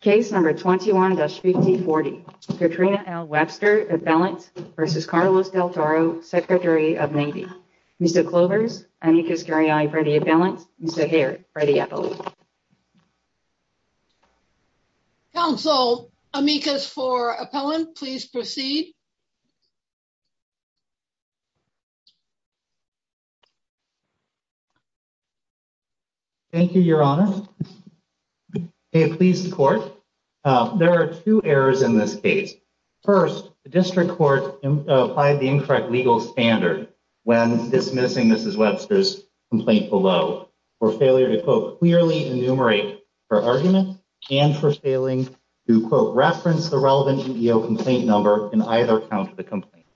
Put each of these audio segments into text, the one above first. Case number 21-5040, Katrina L. Webster, appellant, v. Carlos Del Toro, Secretary of Navy. Mr. Clovers, amicus garyi for the appellant. Mr. Hare, for the appellant. Counsel, amicus for appellant, please proceed. Thank you, your honor. May it please the court. There are two errors in this case. First, the district court applied the incorrect legal standard when dismissing Mrs. Webster's complaint below. For failure to, quote, clearly enumerate her argument and for failing to, quote, reference the relevant EEO complaint number in either count of the complaint.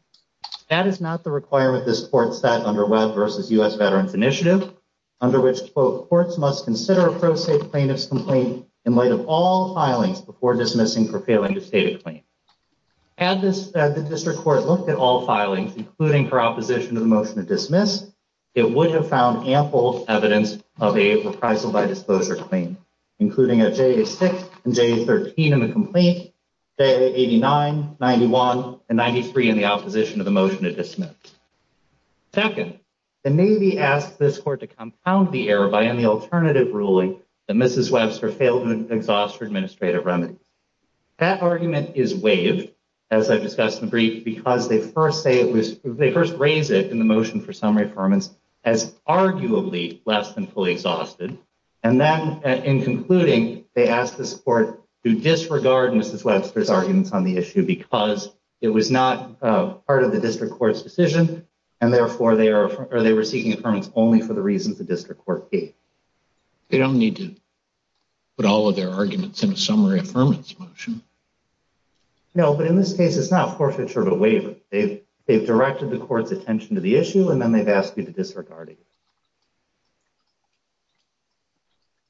That is not the requirement this court set under Web versus U.S. Veterans Initiative, under which, quote, courts must consider a pro se plaintiff's complaint in light of all filings before dismissing for failing to state a claim. Had the district court looked at all filings, including her opposition to the motion to dismiss, it would have found ample evidence of a reprisal by disclosure claim, including at JA 6 and JA 13 in the complaint, JA 89, 91, and 93 in the opposition to the motion to dismiss. Second, the Navy asked this court to compound the error by any alternative ruling that Mrs. Webster failed to exhaust her administrative remedies. That argument is waived, as I've discussed in the brief, because they first say it was, they first raise it in the motion for summary affirmance as arguably less than fully exhausted. And then in concluding, they asked this court to disregard Mrs. Webster's arguments on the issue because it was not part of the district court's decision. And therefore, they were seeking affirmance only for the reasons the district court gave. They don't need to put all of their arguments in a summary affirmance motion. No, but in this case, it's not forfeiture of a waiver. They've directed the court's attention to the issue, and then they've asked you to disregard it.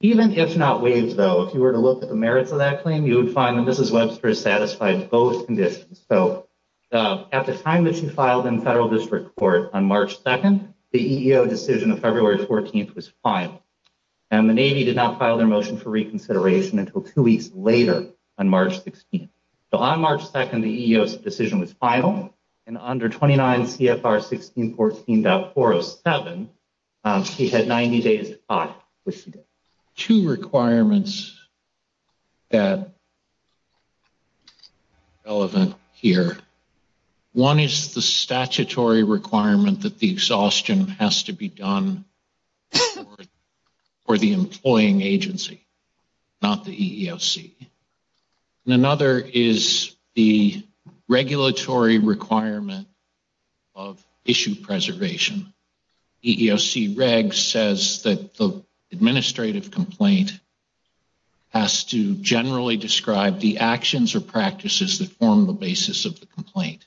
Even if not waived, though, if you were to look at the merits of that claim, you would find that Mrs. Webster has satisfied both conditions. So at the time that she filed in the federal district court on March 2nd, the EEO decision of February 14th was final. And the Navy did not file their motion for reconsideration until two weeks later on March 16th. So on March 2nd, the EEO decision was final, and under 29 CFR 1614.407, she had 90 days to file, which she did. Two requirements that are relevant here. One is the statutory requirement that the exhaustion has to be done for the employing agency, not the EEOC. And another is the regulatory requirement of issue preservation. EEOC regs says that the administrative complaint has to generally describe the actions or practices that form the basis of the complaint.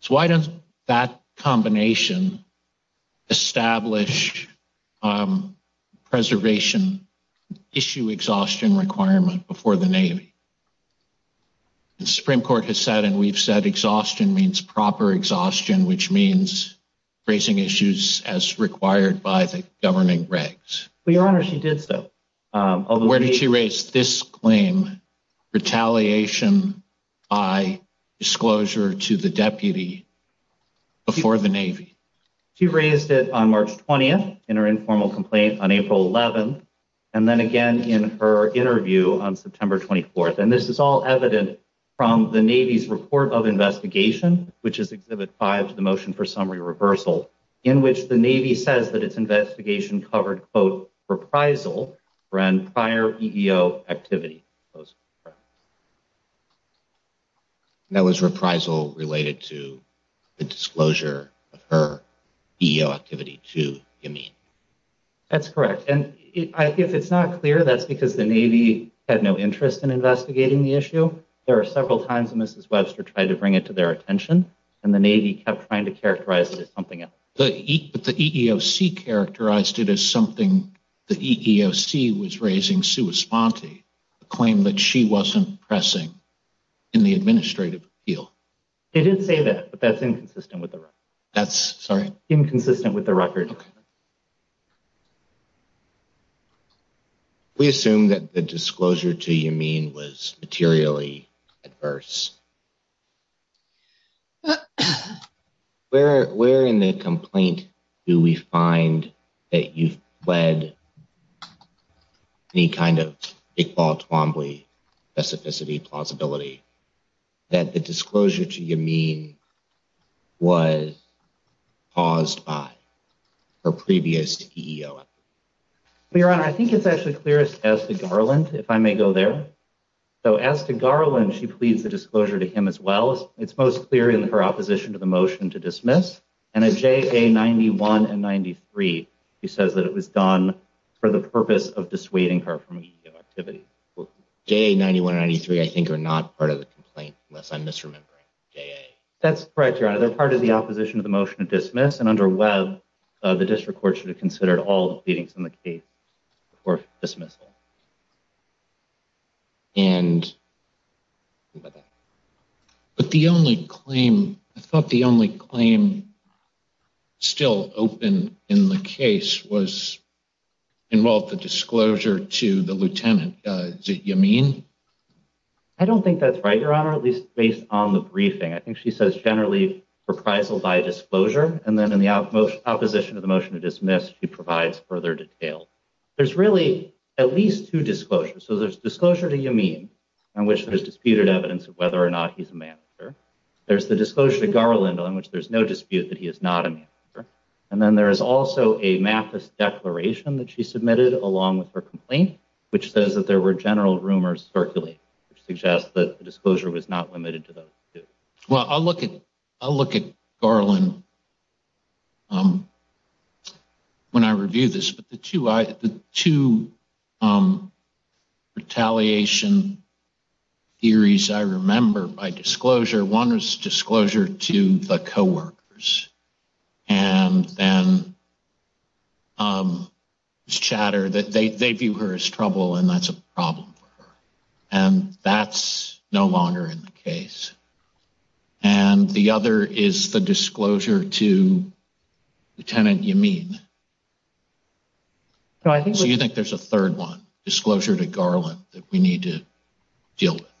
So why doesn't that combination establish preservation issue exhaustion requirement before the Navy? The Supreme Court has said and we've said exhaustion means proper exhaustion, which means raising issues as required by the governing regs. Your Honor, she did so. Where did she raise this claim, retaliation by disclosure to the deputy before the Navy? She raised it on March 20th in her informal complaint on April 11th, and then again in her interview on September 24th. And this is all evident from the Navy's report of investigation, which is Exhibit 5 to the motion for summary reversal, in which the Navy says that its investigation covered, quote, reprisal for prior EEO activity. And that was reprisal related to the disclosure of her EEO activity, too, you mean? That's correct. And if it's not clear, that's because the Navy had no interest in investigating the issue. There were several times that Mrs. Webster tried to bring it to their attention, and the Navy kept trying to characterize it as something else. But the EEOC characterized it as something the EEOC was raising sui sponte, a claim that she wasn't pressing in the administrative appeal. They did say that, but that's inconsistent with the record. That's, sorry? Inconsistent with the record. Okay. We assume that the disclosure to you mean was materially adverse. Where in the complaint do we find that you've led any kind of Iqbal Twombly specificity plausibility that the disclosure to you mean was caused by her previous EEO? Your Honor, I think it's actually clearest as to Garland, if I may go there. So as to Garland, she pleads the disclosure to him as well. It's most clear in her opposition to the motion to dismiss. And a JA-91 and 93, she says that it was done for the purpose of dissuading her from EEO activity. JA-91 and 93, I think, are not part of the complaint, unless I'm misremembering. That's correct, Your Honor. Yes, and under Webb, the district court should have considered all the pleadings in the case before dismissal. But the only claim, I thought the only claim still open in the case involved the disclosure to the lieutenant. Is that what you mean? I don't think that's right, Your Honor, at least based on the briefing. I think she says generally reprisal by disclosure. And then in the opposition to the motion to dismiss, she provides further detail. There's really at least two disclosures. So there's disclosure to Yameen on which there's disputed evidence of whether or not he's a manager. There's the disclosure to Garland on which there's no dispute that he is not a manager. And then there is also a Mathis declaration that she submitted along with her complaint, which says that there were general rumors circulating, which suggests that the disclosure was not limited to those two. Well, I'll look at Garland when I review this. But the two retaliation theories I remember by disclosure, one was disclosure to the coworkers. And then it's chatter that they view her as trouble and that's a problem. And that's no longer in the case. And the other is the disclosure to Lieutenant Yameen. So you think there's a third one disclosure to Garland that we need to deal with?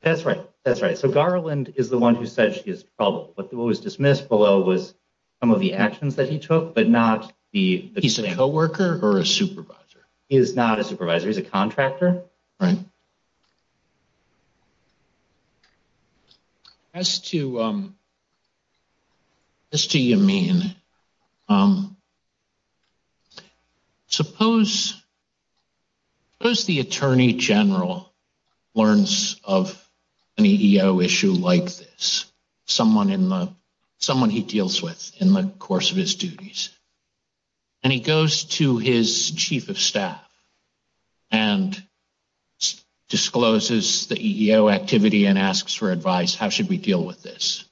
That's right. That's right. So Garland is the one who said she is trouble. But what was dismissed below was some of the actions that he took, but not the piece of coworker or a supervisor. He is not a supervisor. He's a contractor. Right. As to Yameen, suppose the attorney general learns of an EEO issue like this, someone he deals with in the course of his duties. And he goes to his chief of staff and discloses the EEO activity and asks for advice, how should we deal with this?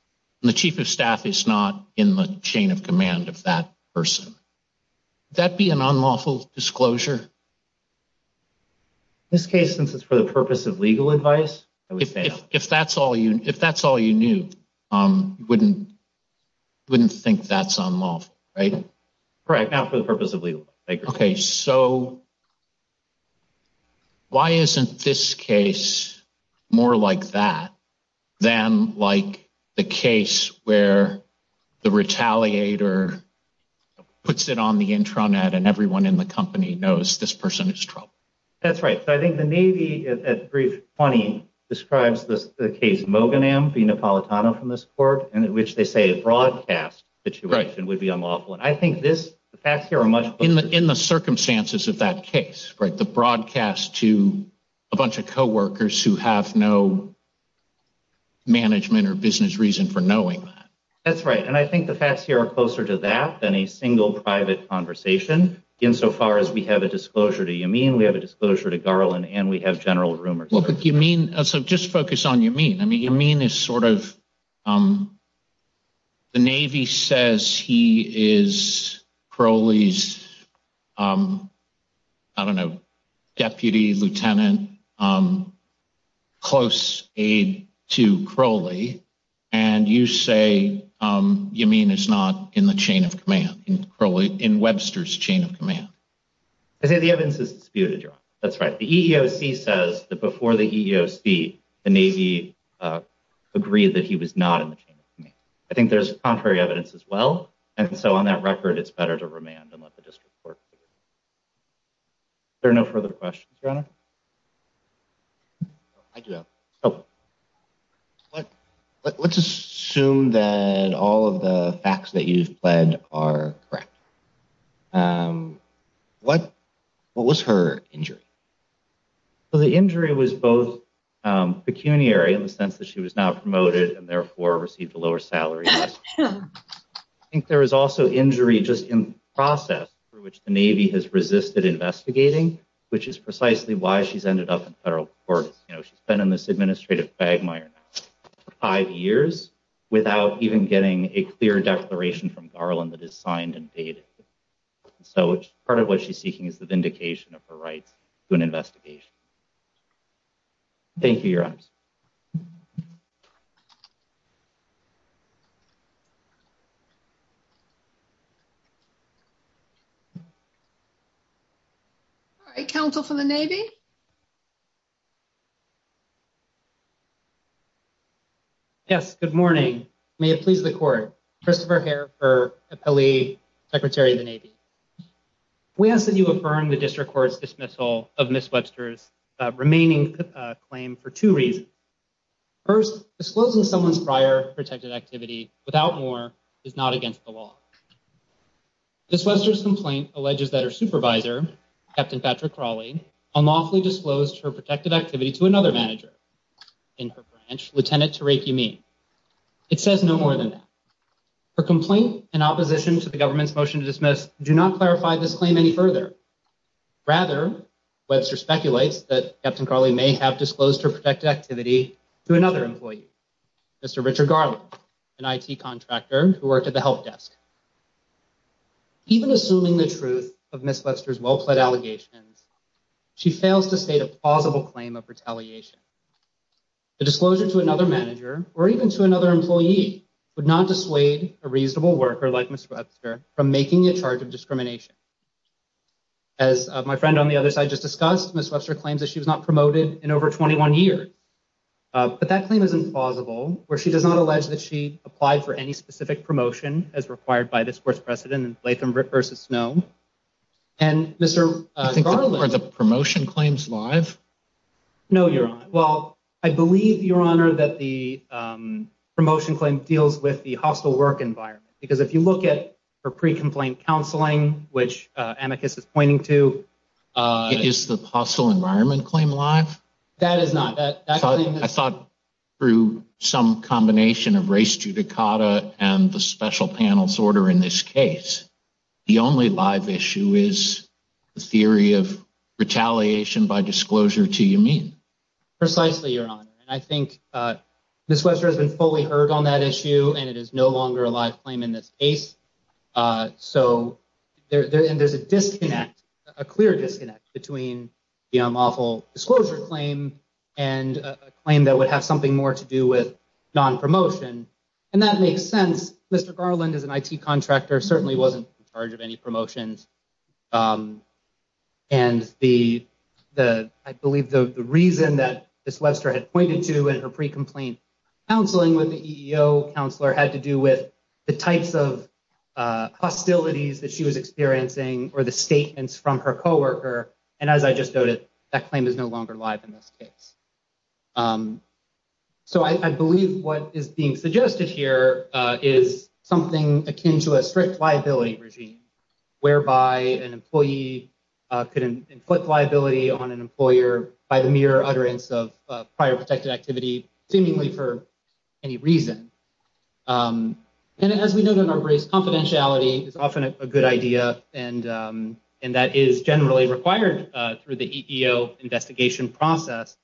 And the chief of staff is not in the chain of command of that person. Would that be an unlawful disclosure? In this case, since it's for the purpose of legal advice, I would say no. If that's all you knew, you wouldn't think that's unlawful, right? Correct. Not for the purpose of legal advice. Okay. So why isn't this case more like that than like the case where the retaliator puts it on the intranet and everyone in the company knows this person is trouble? That's right. So I think the Navy, at brief, describes the case Moghanam v. Napolitano from this court, in which they say a broadcast situation would be unlawful. In the circumstances of that case, the broadcast to a bunch of coworkers who have no management or business reason for knowing that. That's right. And I think the facts here are closer to that than a single private conversation. In so far as we have a disclosure to Yameen, we have a disclosure to Garland, and we have general rumors. Well, but Yameen – so just focus on Yameen. I mean, Yameen is sort of – the Navy says he is Crowley's, I don't know, deputy lieutenant, close aide to Crowley, and you say Yameen is not in the chain of command, in Webster's chain of command. I say the evidence is disputed, Your Honor. That's right. The EEOC says that before the EEOC, the Navy agreed that he was not in the chain of command. I think there's contrary evidence as well, and so on that record, it's better to remand and let the district court. Are there no further questions, Your Honor? I do have one. Oh. Let's assume that all of the facts that you've pled are correct. What was her injury? Well, the injury was both pecuniary in the sense that she was not promoted and therefore received a lower salary. I think there was also injury just in the process for which the Navy has resisted investigating, which is precisely why she's ended up in federal court. You know, she's been in this administrative quagmire now for five years without even getting a clear declaration from Garland that is signed and dated. So part of what she's seeking is the vindication of her rights to an investigation. Thank you, Your Honor. All right. Counsel for the Navy. Yes, good morning. May it please the court. Christopher here for the Secretary of the Navy. We ask that you affirm the district court's dismissal of Miss Webster's remaining claim for two reasons. First, disclosing someone's prior protected activity without more is not against the law. This Webster's complaint alleges that her supervisor, Captain Patrick Crawley, unlawfully disclosed her protected activity to another manager in her branch, Lieutenant Tariq Yameen. It says no more than that. Her complaint in opposition to the government's motion to dismiss do not clarify this claim any further. Rather, Webster speculates that Captain Crawley may have disclosed her protected activity to another employee, Mr. Richard Garland, an IT contractor who worked at the help desk. Even assuming the truth of Miss Webster's well-pled allegations, she fails to state a plausible claim of retaliation. The disclosure to another manager or even to another employee would not dissuade a reasonable worker like Miss Webster from making a charge of discrimination. As my friend on the other side just discussed, Miss Webster claims that she was not promoted in over 21 years. But that claim is implausible, where she does not allege that she applied for any specific promotion as required by this court's precedent in Blatham v. Snow. And Mr. Garland. Are the promotion claims live? No, Your Honor. Well, I believe, Your Honor, that the promotion claim deals with the hostile work environment. Because if you look at her pre-complaint counseling, which Amicus is pointing to. Is the hostile environment claim live? That is not. I thought through some combination of race judicata and the special panel's order in this case. The only live issue is the theory of retaliation by disclosure to you mean. Precisely, Your Honor. And I think Miss Webster has been fully heard on that issue and it is no longer a live claim in this case. So there's a disconnect, a clear disconnect between the awful disclosure claim and a claim that would have something more to do with non-promotion. And that makes sense. Mr. Garland is an IT contractor, certainly wasn't in charge of any promotions. And the I believe the reason that Miss Webster had pointed to in her pre-complaint counseling with the EEO counselor had to do with the types of hostilities that she was experiencing or the statements from her co-worker. And as I just noted, that claim is no longer live in this case. So I believe what is being suggested here is something akin to a strict liability regime whereby an employee could inflict liability on an employer by the mere utterance of prior protected activity, seemingly for any reason. And as we know in our race, confidentiality is often a good idea and that is generally required through the EEO investigation process.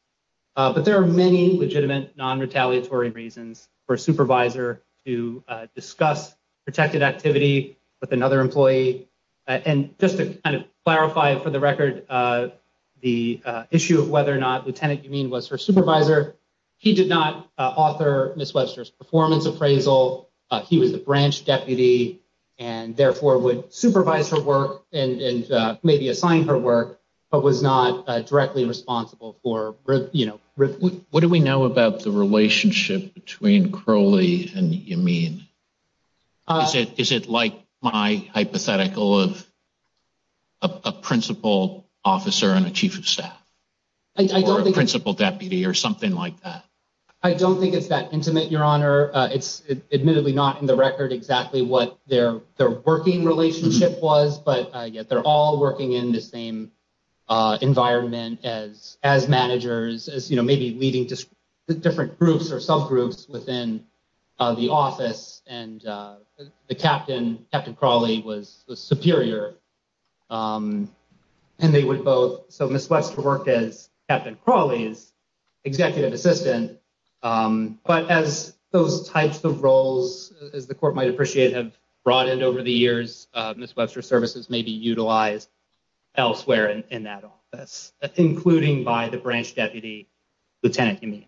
But there are many legitimate, non-retaliatory reasons for a supervisor to discuss protected activity with another employee. And just to kind of clarify for the record, the issue of whether or not Lieutenant Yameen was her supervisor, he did not author Miss Webster's performance appraisal. He was the branch deputy and therefore would supervise her work and maybe assign her work, but was not directly responsible for, you know. What do we know about the relationship between Crowley and Yameen? Is it like my hypothetical of a principal officer and a chief of staff or a principal deputy or something like that? I don't think it's that intimate, Your Honor. It's admittedly not in the record exactly what their working relationship was. But they're all working in the same environment as managers, as you know, maybe leading different groups or subgroups within the office. And the captain, Captain Crowley, was the superior. And they would both, so Miss Webster worked as Captain Crowley's executive assistant. But as those types of roles, as the court might appreciate, have broadened over the years, Miss Webster's services may be utilized elsewhere in that office, including by the branch deputy, Lieutenant Yameen.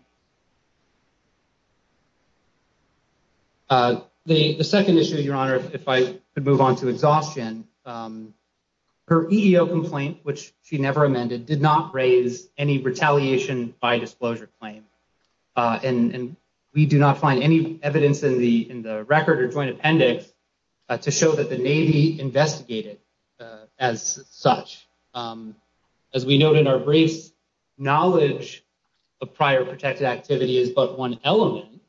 The second issue, Your Honor, if I could move on to exhaustion, her EEO complaint, which she never amended, did not raise any retaliation by disclosure claim. And we do not find any evidence in the record or joint appendix to show that the Navy investigated as such. As we note in our briefs, knowledge of prior protected activity is but one element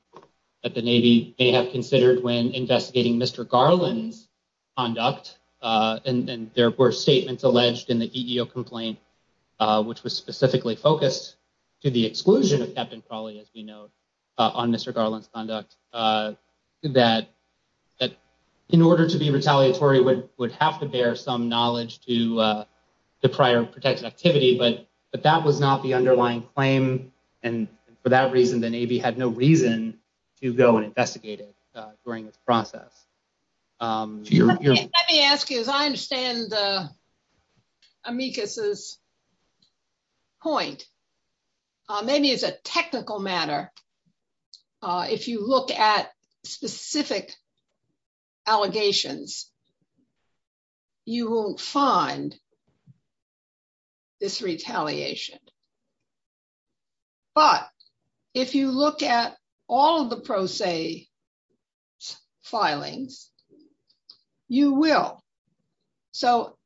that the Navy may have considered when investigating Mr. Garland's conduct. And there were statements alleged in the EEO complaint, which was specifically focused to the exclusion of Captain Crowley, as we know, on Mr. Garland's conduct. That in order to be retaliatory would have to bear some knowledge to the prior protected activity. But that was not the underlying claim. And for that reason, the Navy had no reason to go and investigate it during its process. Let me ask you, as I understand Amicus's point, maybe as a technical matter, if you look at specific allegations, you will find this retaliation. But if you look at all of the pro se filings, you will. So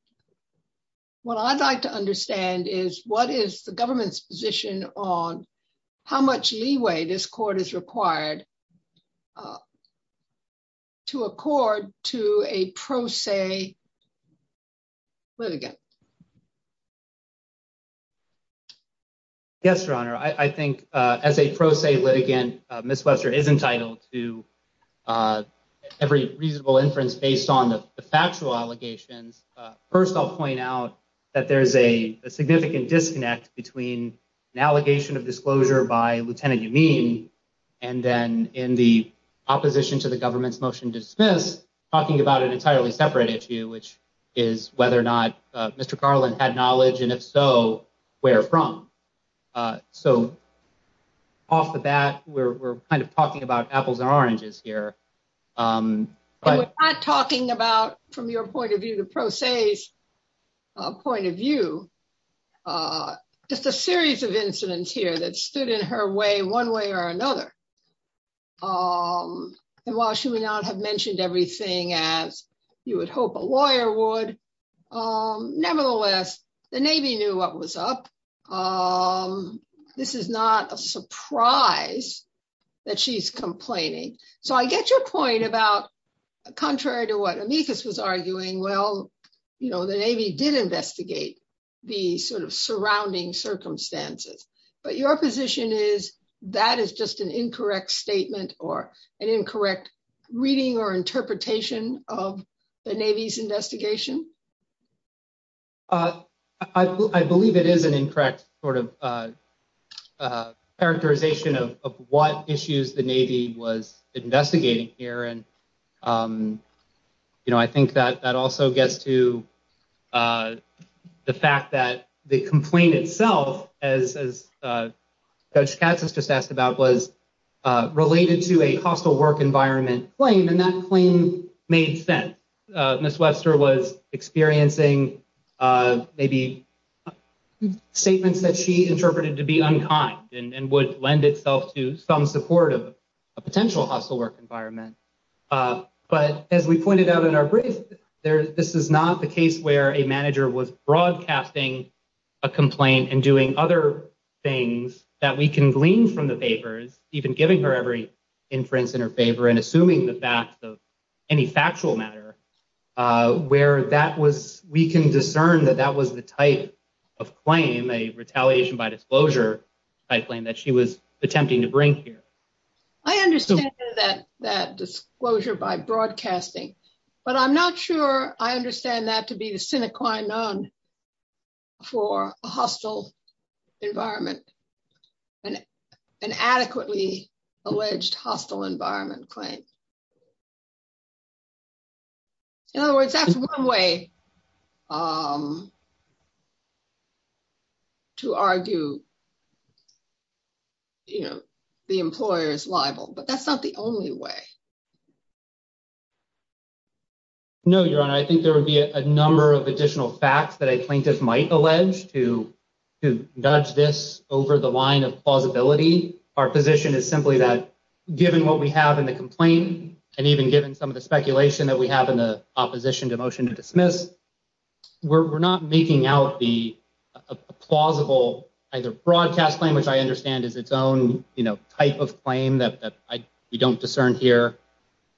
what I'd like to understand is what is the government's position on how much leeway this court is required to accord to a pro se litigant? Yes, Your Honor. I think as a pro se litigant, Ms. Webster is entitled to every reasonable inference based on the factual allegations. First, I'll point out that there is a significant disconnect between an allegation of disclosure by Lieutenant Yameen and then in the opposition to the government's motion to dismiss, which is talking about an entirely separate issue, which is whether or not Mr. Garland had knowledge, and if so, where from. So off the bat, we're kind of talking about apples and oranges here. We're not talking about, from your point of view, the pro se's point of view. Just a series of incidents here that stood in her way one way or another. And while she may not have mentioned everything as you would hope a lawyer would, nevertheless, the Navy knew what was up. This is not a surprise that she's complaining. So I get your point about, contrary to what Amicus was arguing, well, you know, the Navy did investigate the sort of surrounding circumstances. But your position is that is just an incorrect statement or an incorrect reading or interpretation of the Navy's investigation? I believe it is an incorrect sort of characterization of what issues the Navy was investigating here. And, you know, I think that that also gets to the fact that the complaint itself, as Judge Katz has just asked about, was related to a hostile work environment claim. And that claim made sense. Ms. Wester was experiencing maybe statements that she interpreted to be unkind and would lend itself to some support of a potential hostile work environment. But as we pointed out in our brief, this is not the case where a manager was broadcasting a complaint and doing other things that we can glean from the papers, even giving her every inference in her favor and assuming the facts of any factual matter, where we can discern that that was the type of claim, a retaliation by disclosure type claim, that she was attempting to bring here. I understand that that disclosure by broadcasting, but I'm not sure I understand that to be the sine qua non for a hostile environment and an adequately alleged hostile environment claim. In other words, that's one way to argue, you know, the employer is liable, but that's not the only way. No, Your Honor, I think there would be a number of additional facts that a plaintiff might allege to nudge this over the line of plausibility. Our position is simply that given what we have in the complaint and even given some of the speculation that we have in the opposition to motion to dismiss, we're not making out the plausible either broadcast claim, which I understand is its own type of claim that we don't discern here.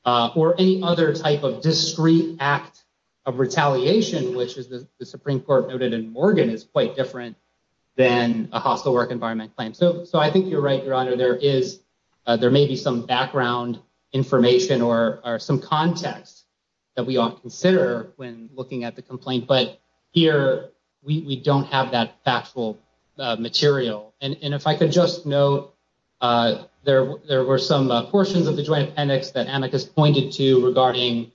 Or any other type of discrete act of retaliation, which is the Supreme Court noted in Morgan is quite different than a hostile work environment claim. So I think you're right, Your Honor, there may be some background information or some context that we ought to consider when looking at the complaint. But here we don't have that factual material. And if I could just note, there were some portions of the joint appendix that Amicus pointed to regarding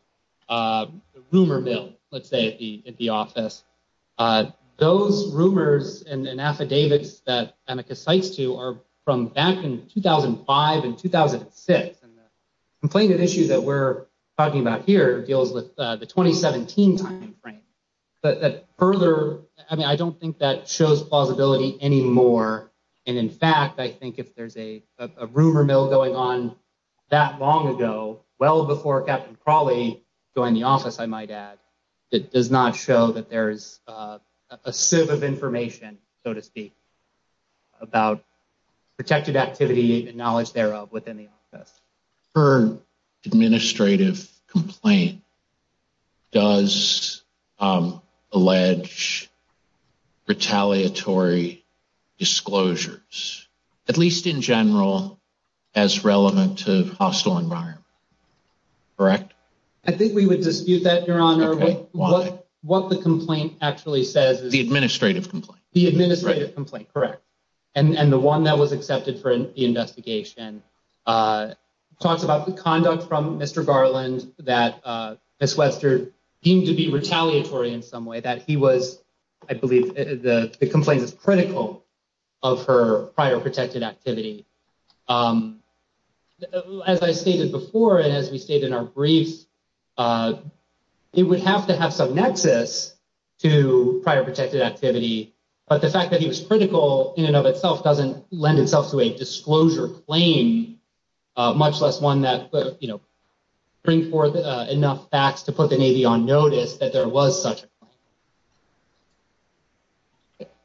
the rumor bill, let's say, at the office. Those rumors and affidavits that Amicus cites to are from back in 2005 and 2006. And the complainant issue that we're talking about here deals with the 2017 timeframe. But further, I mean, I don't think that shows plausibility anymore. And in fact, I think if there's a rumor mill going on that long ago, well before Captain Crawley joined the office, I might add, it does not show that there is a sieve of information, so to speak, about protected activity and knowledge thereof within the office. Her administrative complaint does allege retaliatory disclosures, at least in general, as relevant to hostile environment. Correct? I think we would dispute that, Your Honor. What the complaint actually says is… The administrative complaint. The administrative complaint, correct. And the one that was accepted for the investigation talks about the conduct from Mr. Garland that Ms. Webster deemed to be retaliatory in some way, that he was, I believe, the complaint is critical of her prior protected activity. As I stated before, and as we stated in our briefs, it would have to have some nexus to prior protected activity. But the fact that he was critical in and of itself doesn't lend itself to a disclosure claim, much less one that, you know, bring forth enough facts to put the Navy on notice that there was such a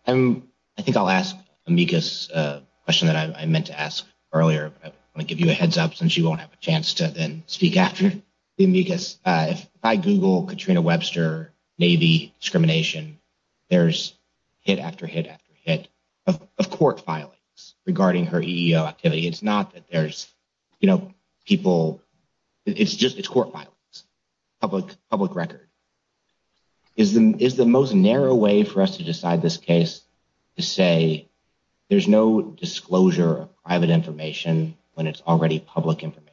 claim. I think I'll ask Amicus a question that I meant to ask earlier, but I want to give you a heads up since you won't have a chance to then speak after Amicus. If I Google Katrina Webster Navy discrimination, there's hit after hit after hit of court filings regarding her EEO activity. It's not that there's, you know, people, it's just court filings, public record. Is the most narrow way for us to decide this case to say there's no disclosure of private information when it's already public information?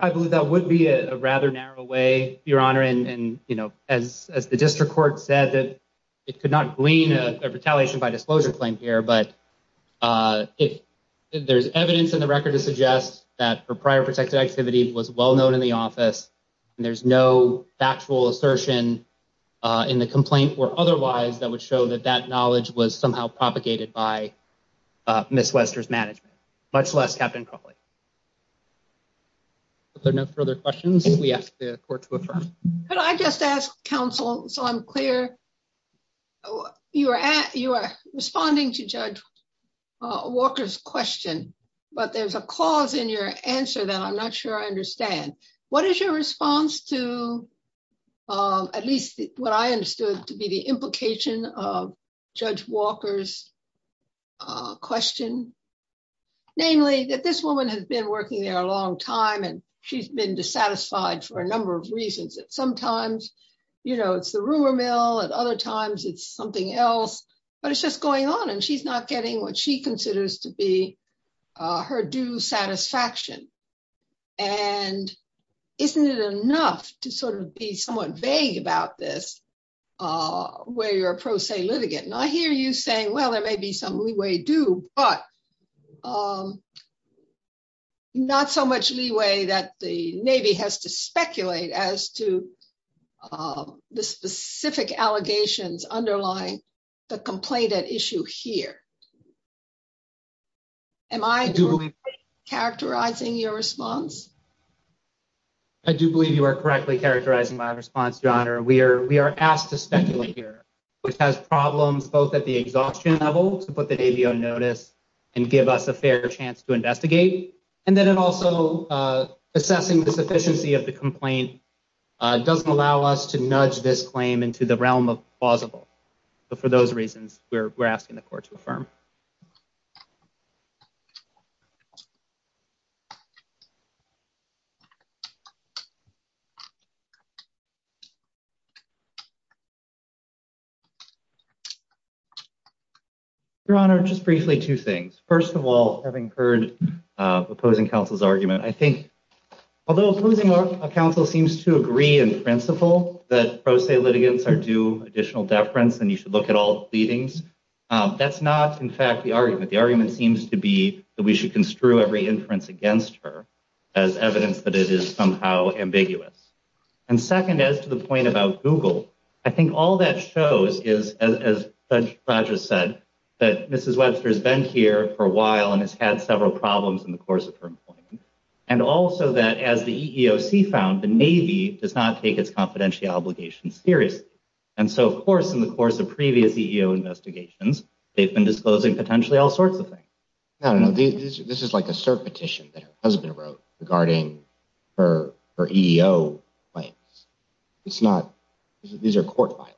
I believe that would be a rather narrow way, Your Honor. And, you know, as the district court said that it could not glean a retaliation by disclosure claim here. But if there's evidence in the record to suggest that her prior protected activity was well known in the office and there's no factual assertion in the complaint or otherwise, that would show that that knowledge was somehow propagated by Miss Wester's management, much less Captain Crawley. If there are no further questions, we ask the court to affirm. I just asked counsel, so I'm clear. You are at you are responding to Judge Walker's question, but there's a cause in your answer that I'm not sure I understand. What is your response to at least what I understood to be the implication of Judge Walker's question, namely that this woman has been working there a long time and she's been dissatisfied for a number of reasons that sometimes, you know, it's the rumor mill and other times it's something else, but it's just going on and she's not getting what she considers to be her due satisfaction. And isn't it enough to sort of be somewhat vague about this where you're a pro se litigant and I hear you saying well there may be some leeway do, but I'm not so much leeway that the Navy has to speculate as to the specific allegations underlying the complaint at issue here. Am I characterizing your response. I do believe you are correctly characterizing my response to honor we are we are asked to speculate here, which has problems both at the exhaustion level to put the Navy on notice and give us a fair chance to investigate. And then it also assessing the sufficiency of the complaint doesn't allow us to nudge this claim into the realm of plausible. But for those reasons, we're, we're asking the court to affirm. Your Honor just briefly two things. First of all, having heard opposing counsel's argument, I think, although opposing a council seems to agree in principle that pro se litigants are do additional deference and you should look at all meetings. That's not in fact the argument. The argument seems to be that we should construe every inference against her as evidence that it is somehow ambiguous. And second, as to the point about Google, I think all that shows is, as Roger said, that Mrs Webster has been here for a while and has had several problems in the course of her employment. And also that as the EEOC found the Navy does not take its confidential obligations serious. And so, of course, in the course of previous EEO investigations, they've been disclosing potentially all sorts of things. I don't know. This is like a cert petition that her husband wrote regarding her EEO claims. It's not. These are court files.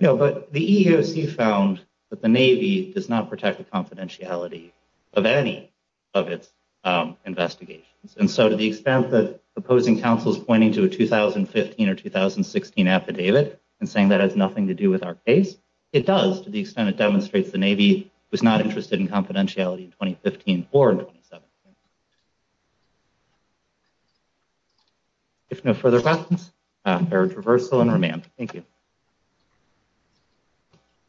No, but the EEOC found that the Navy does not protect the confidentiality of any of its investigations. And so to the extent that opposing counsel's pointing to a 2015 or 2016 affidavit and saying that has nothing to do with our case, it does to the extent it demonstrates the Navy was not interested in confidentiality in 2015 or 2017. If no further questions, I'll defer to reversal and remand. Thank you.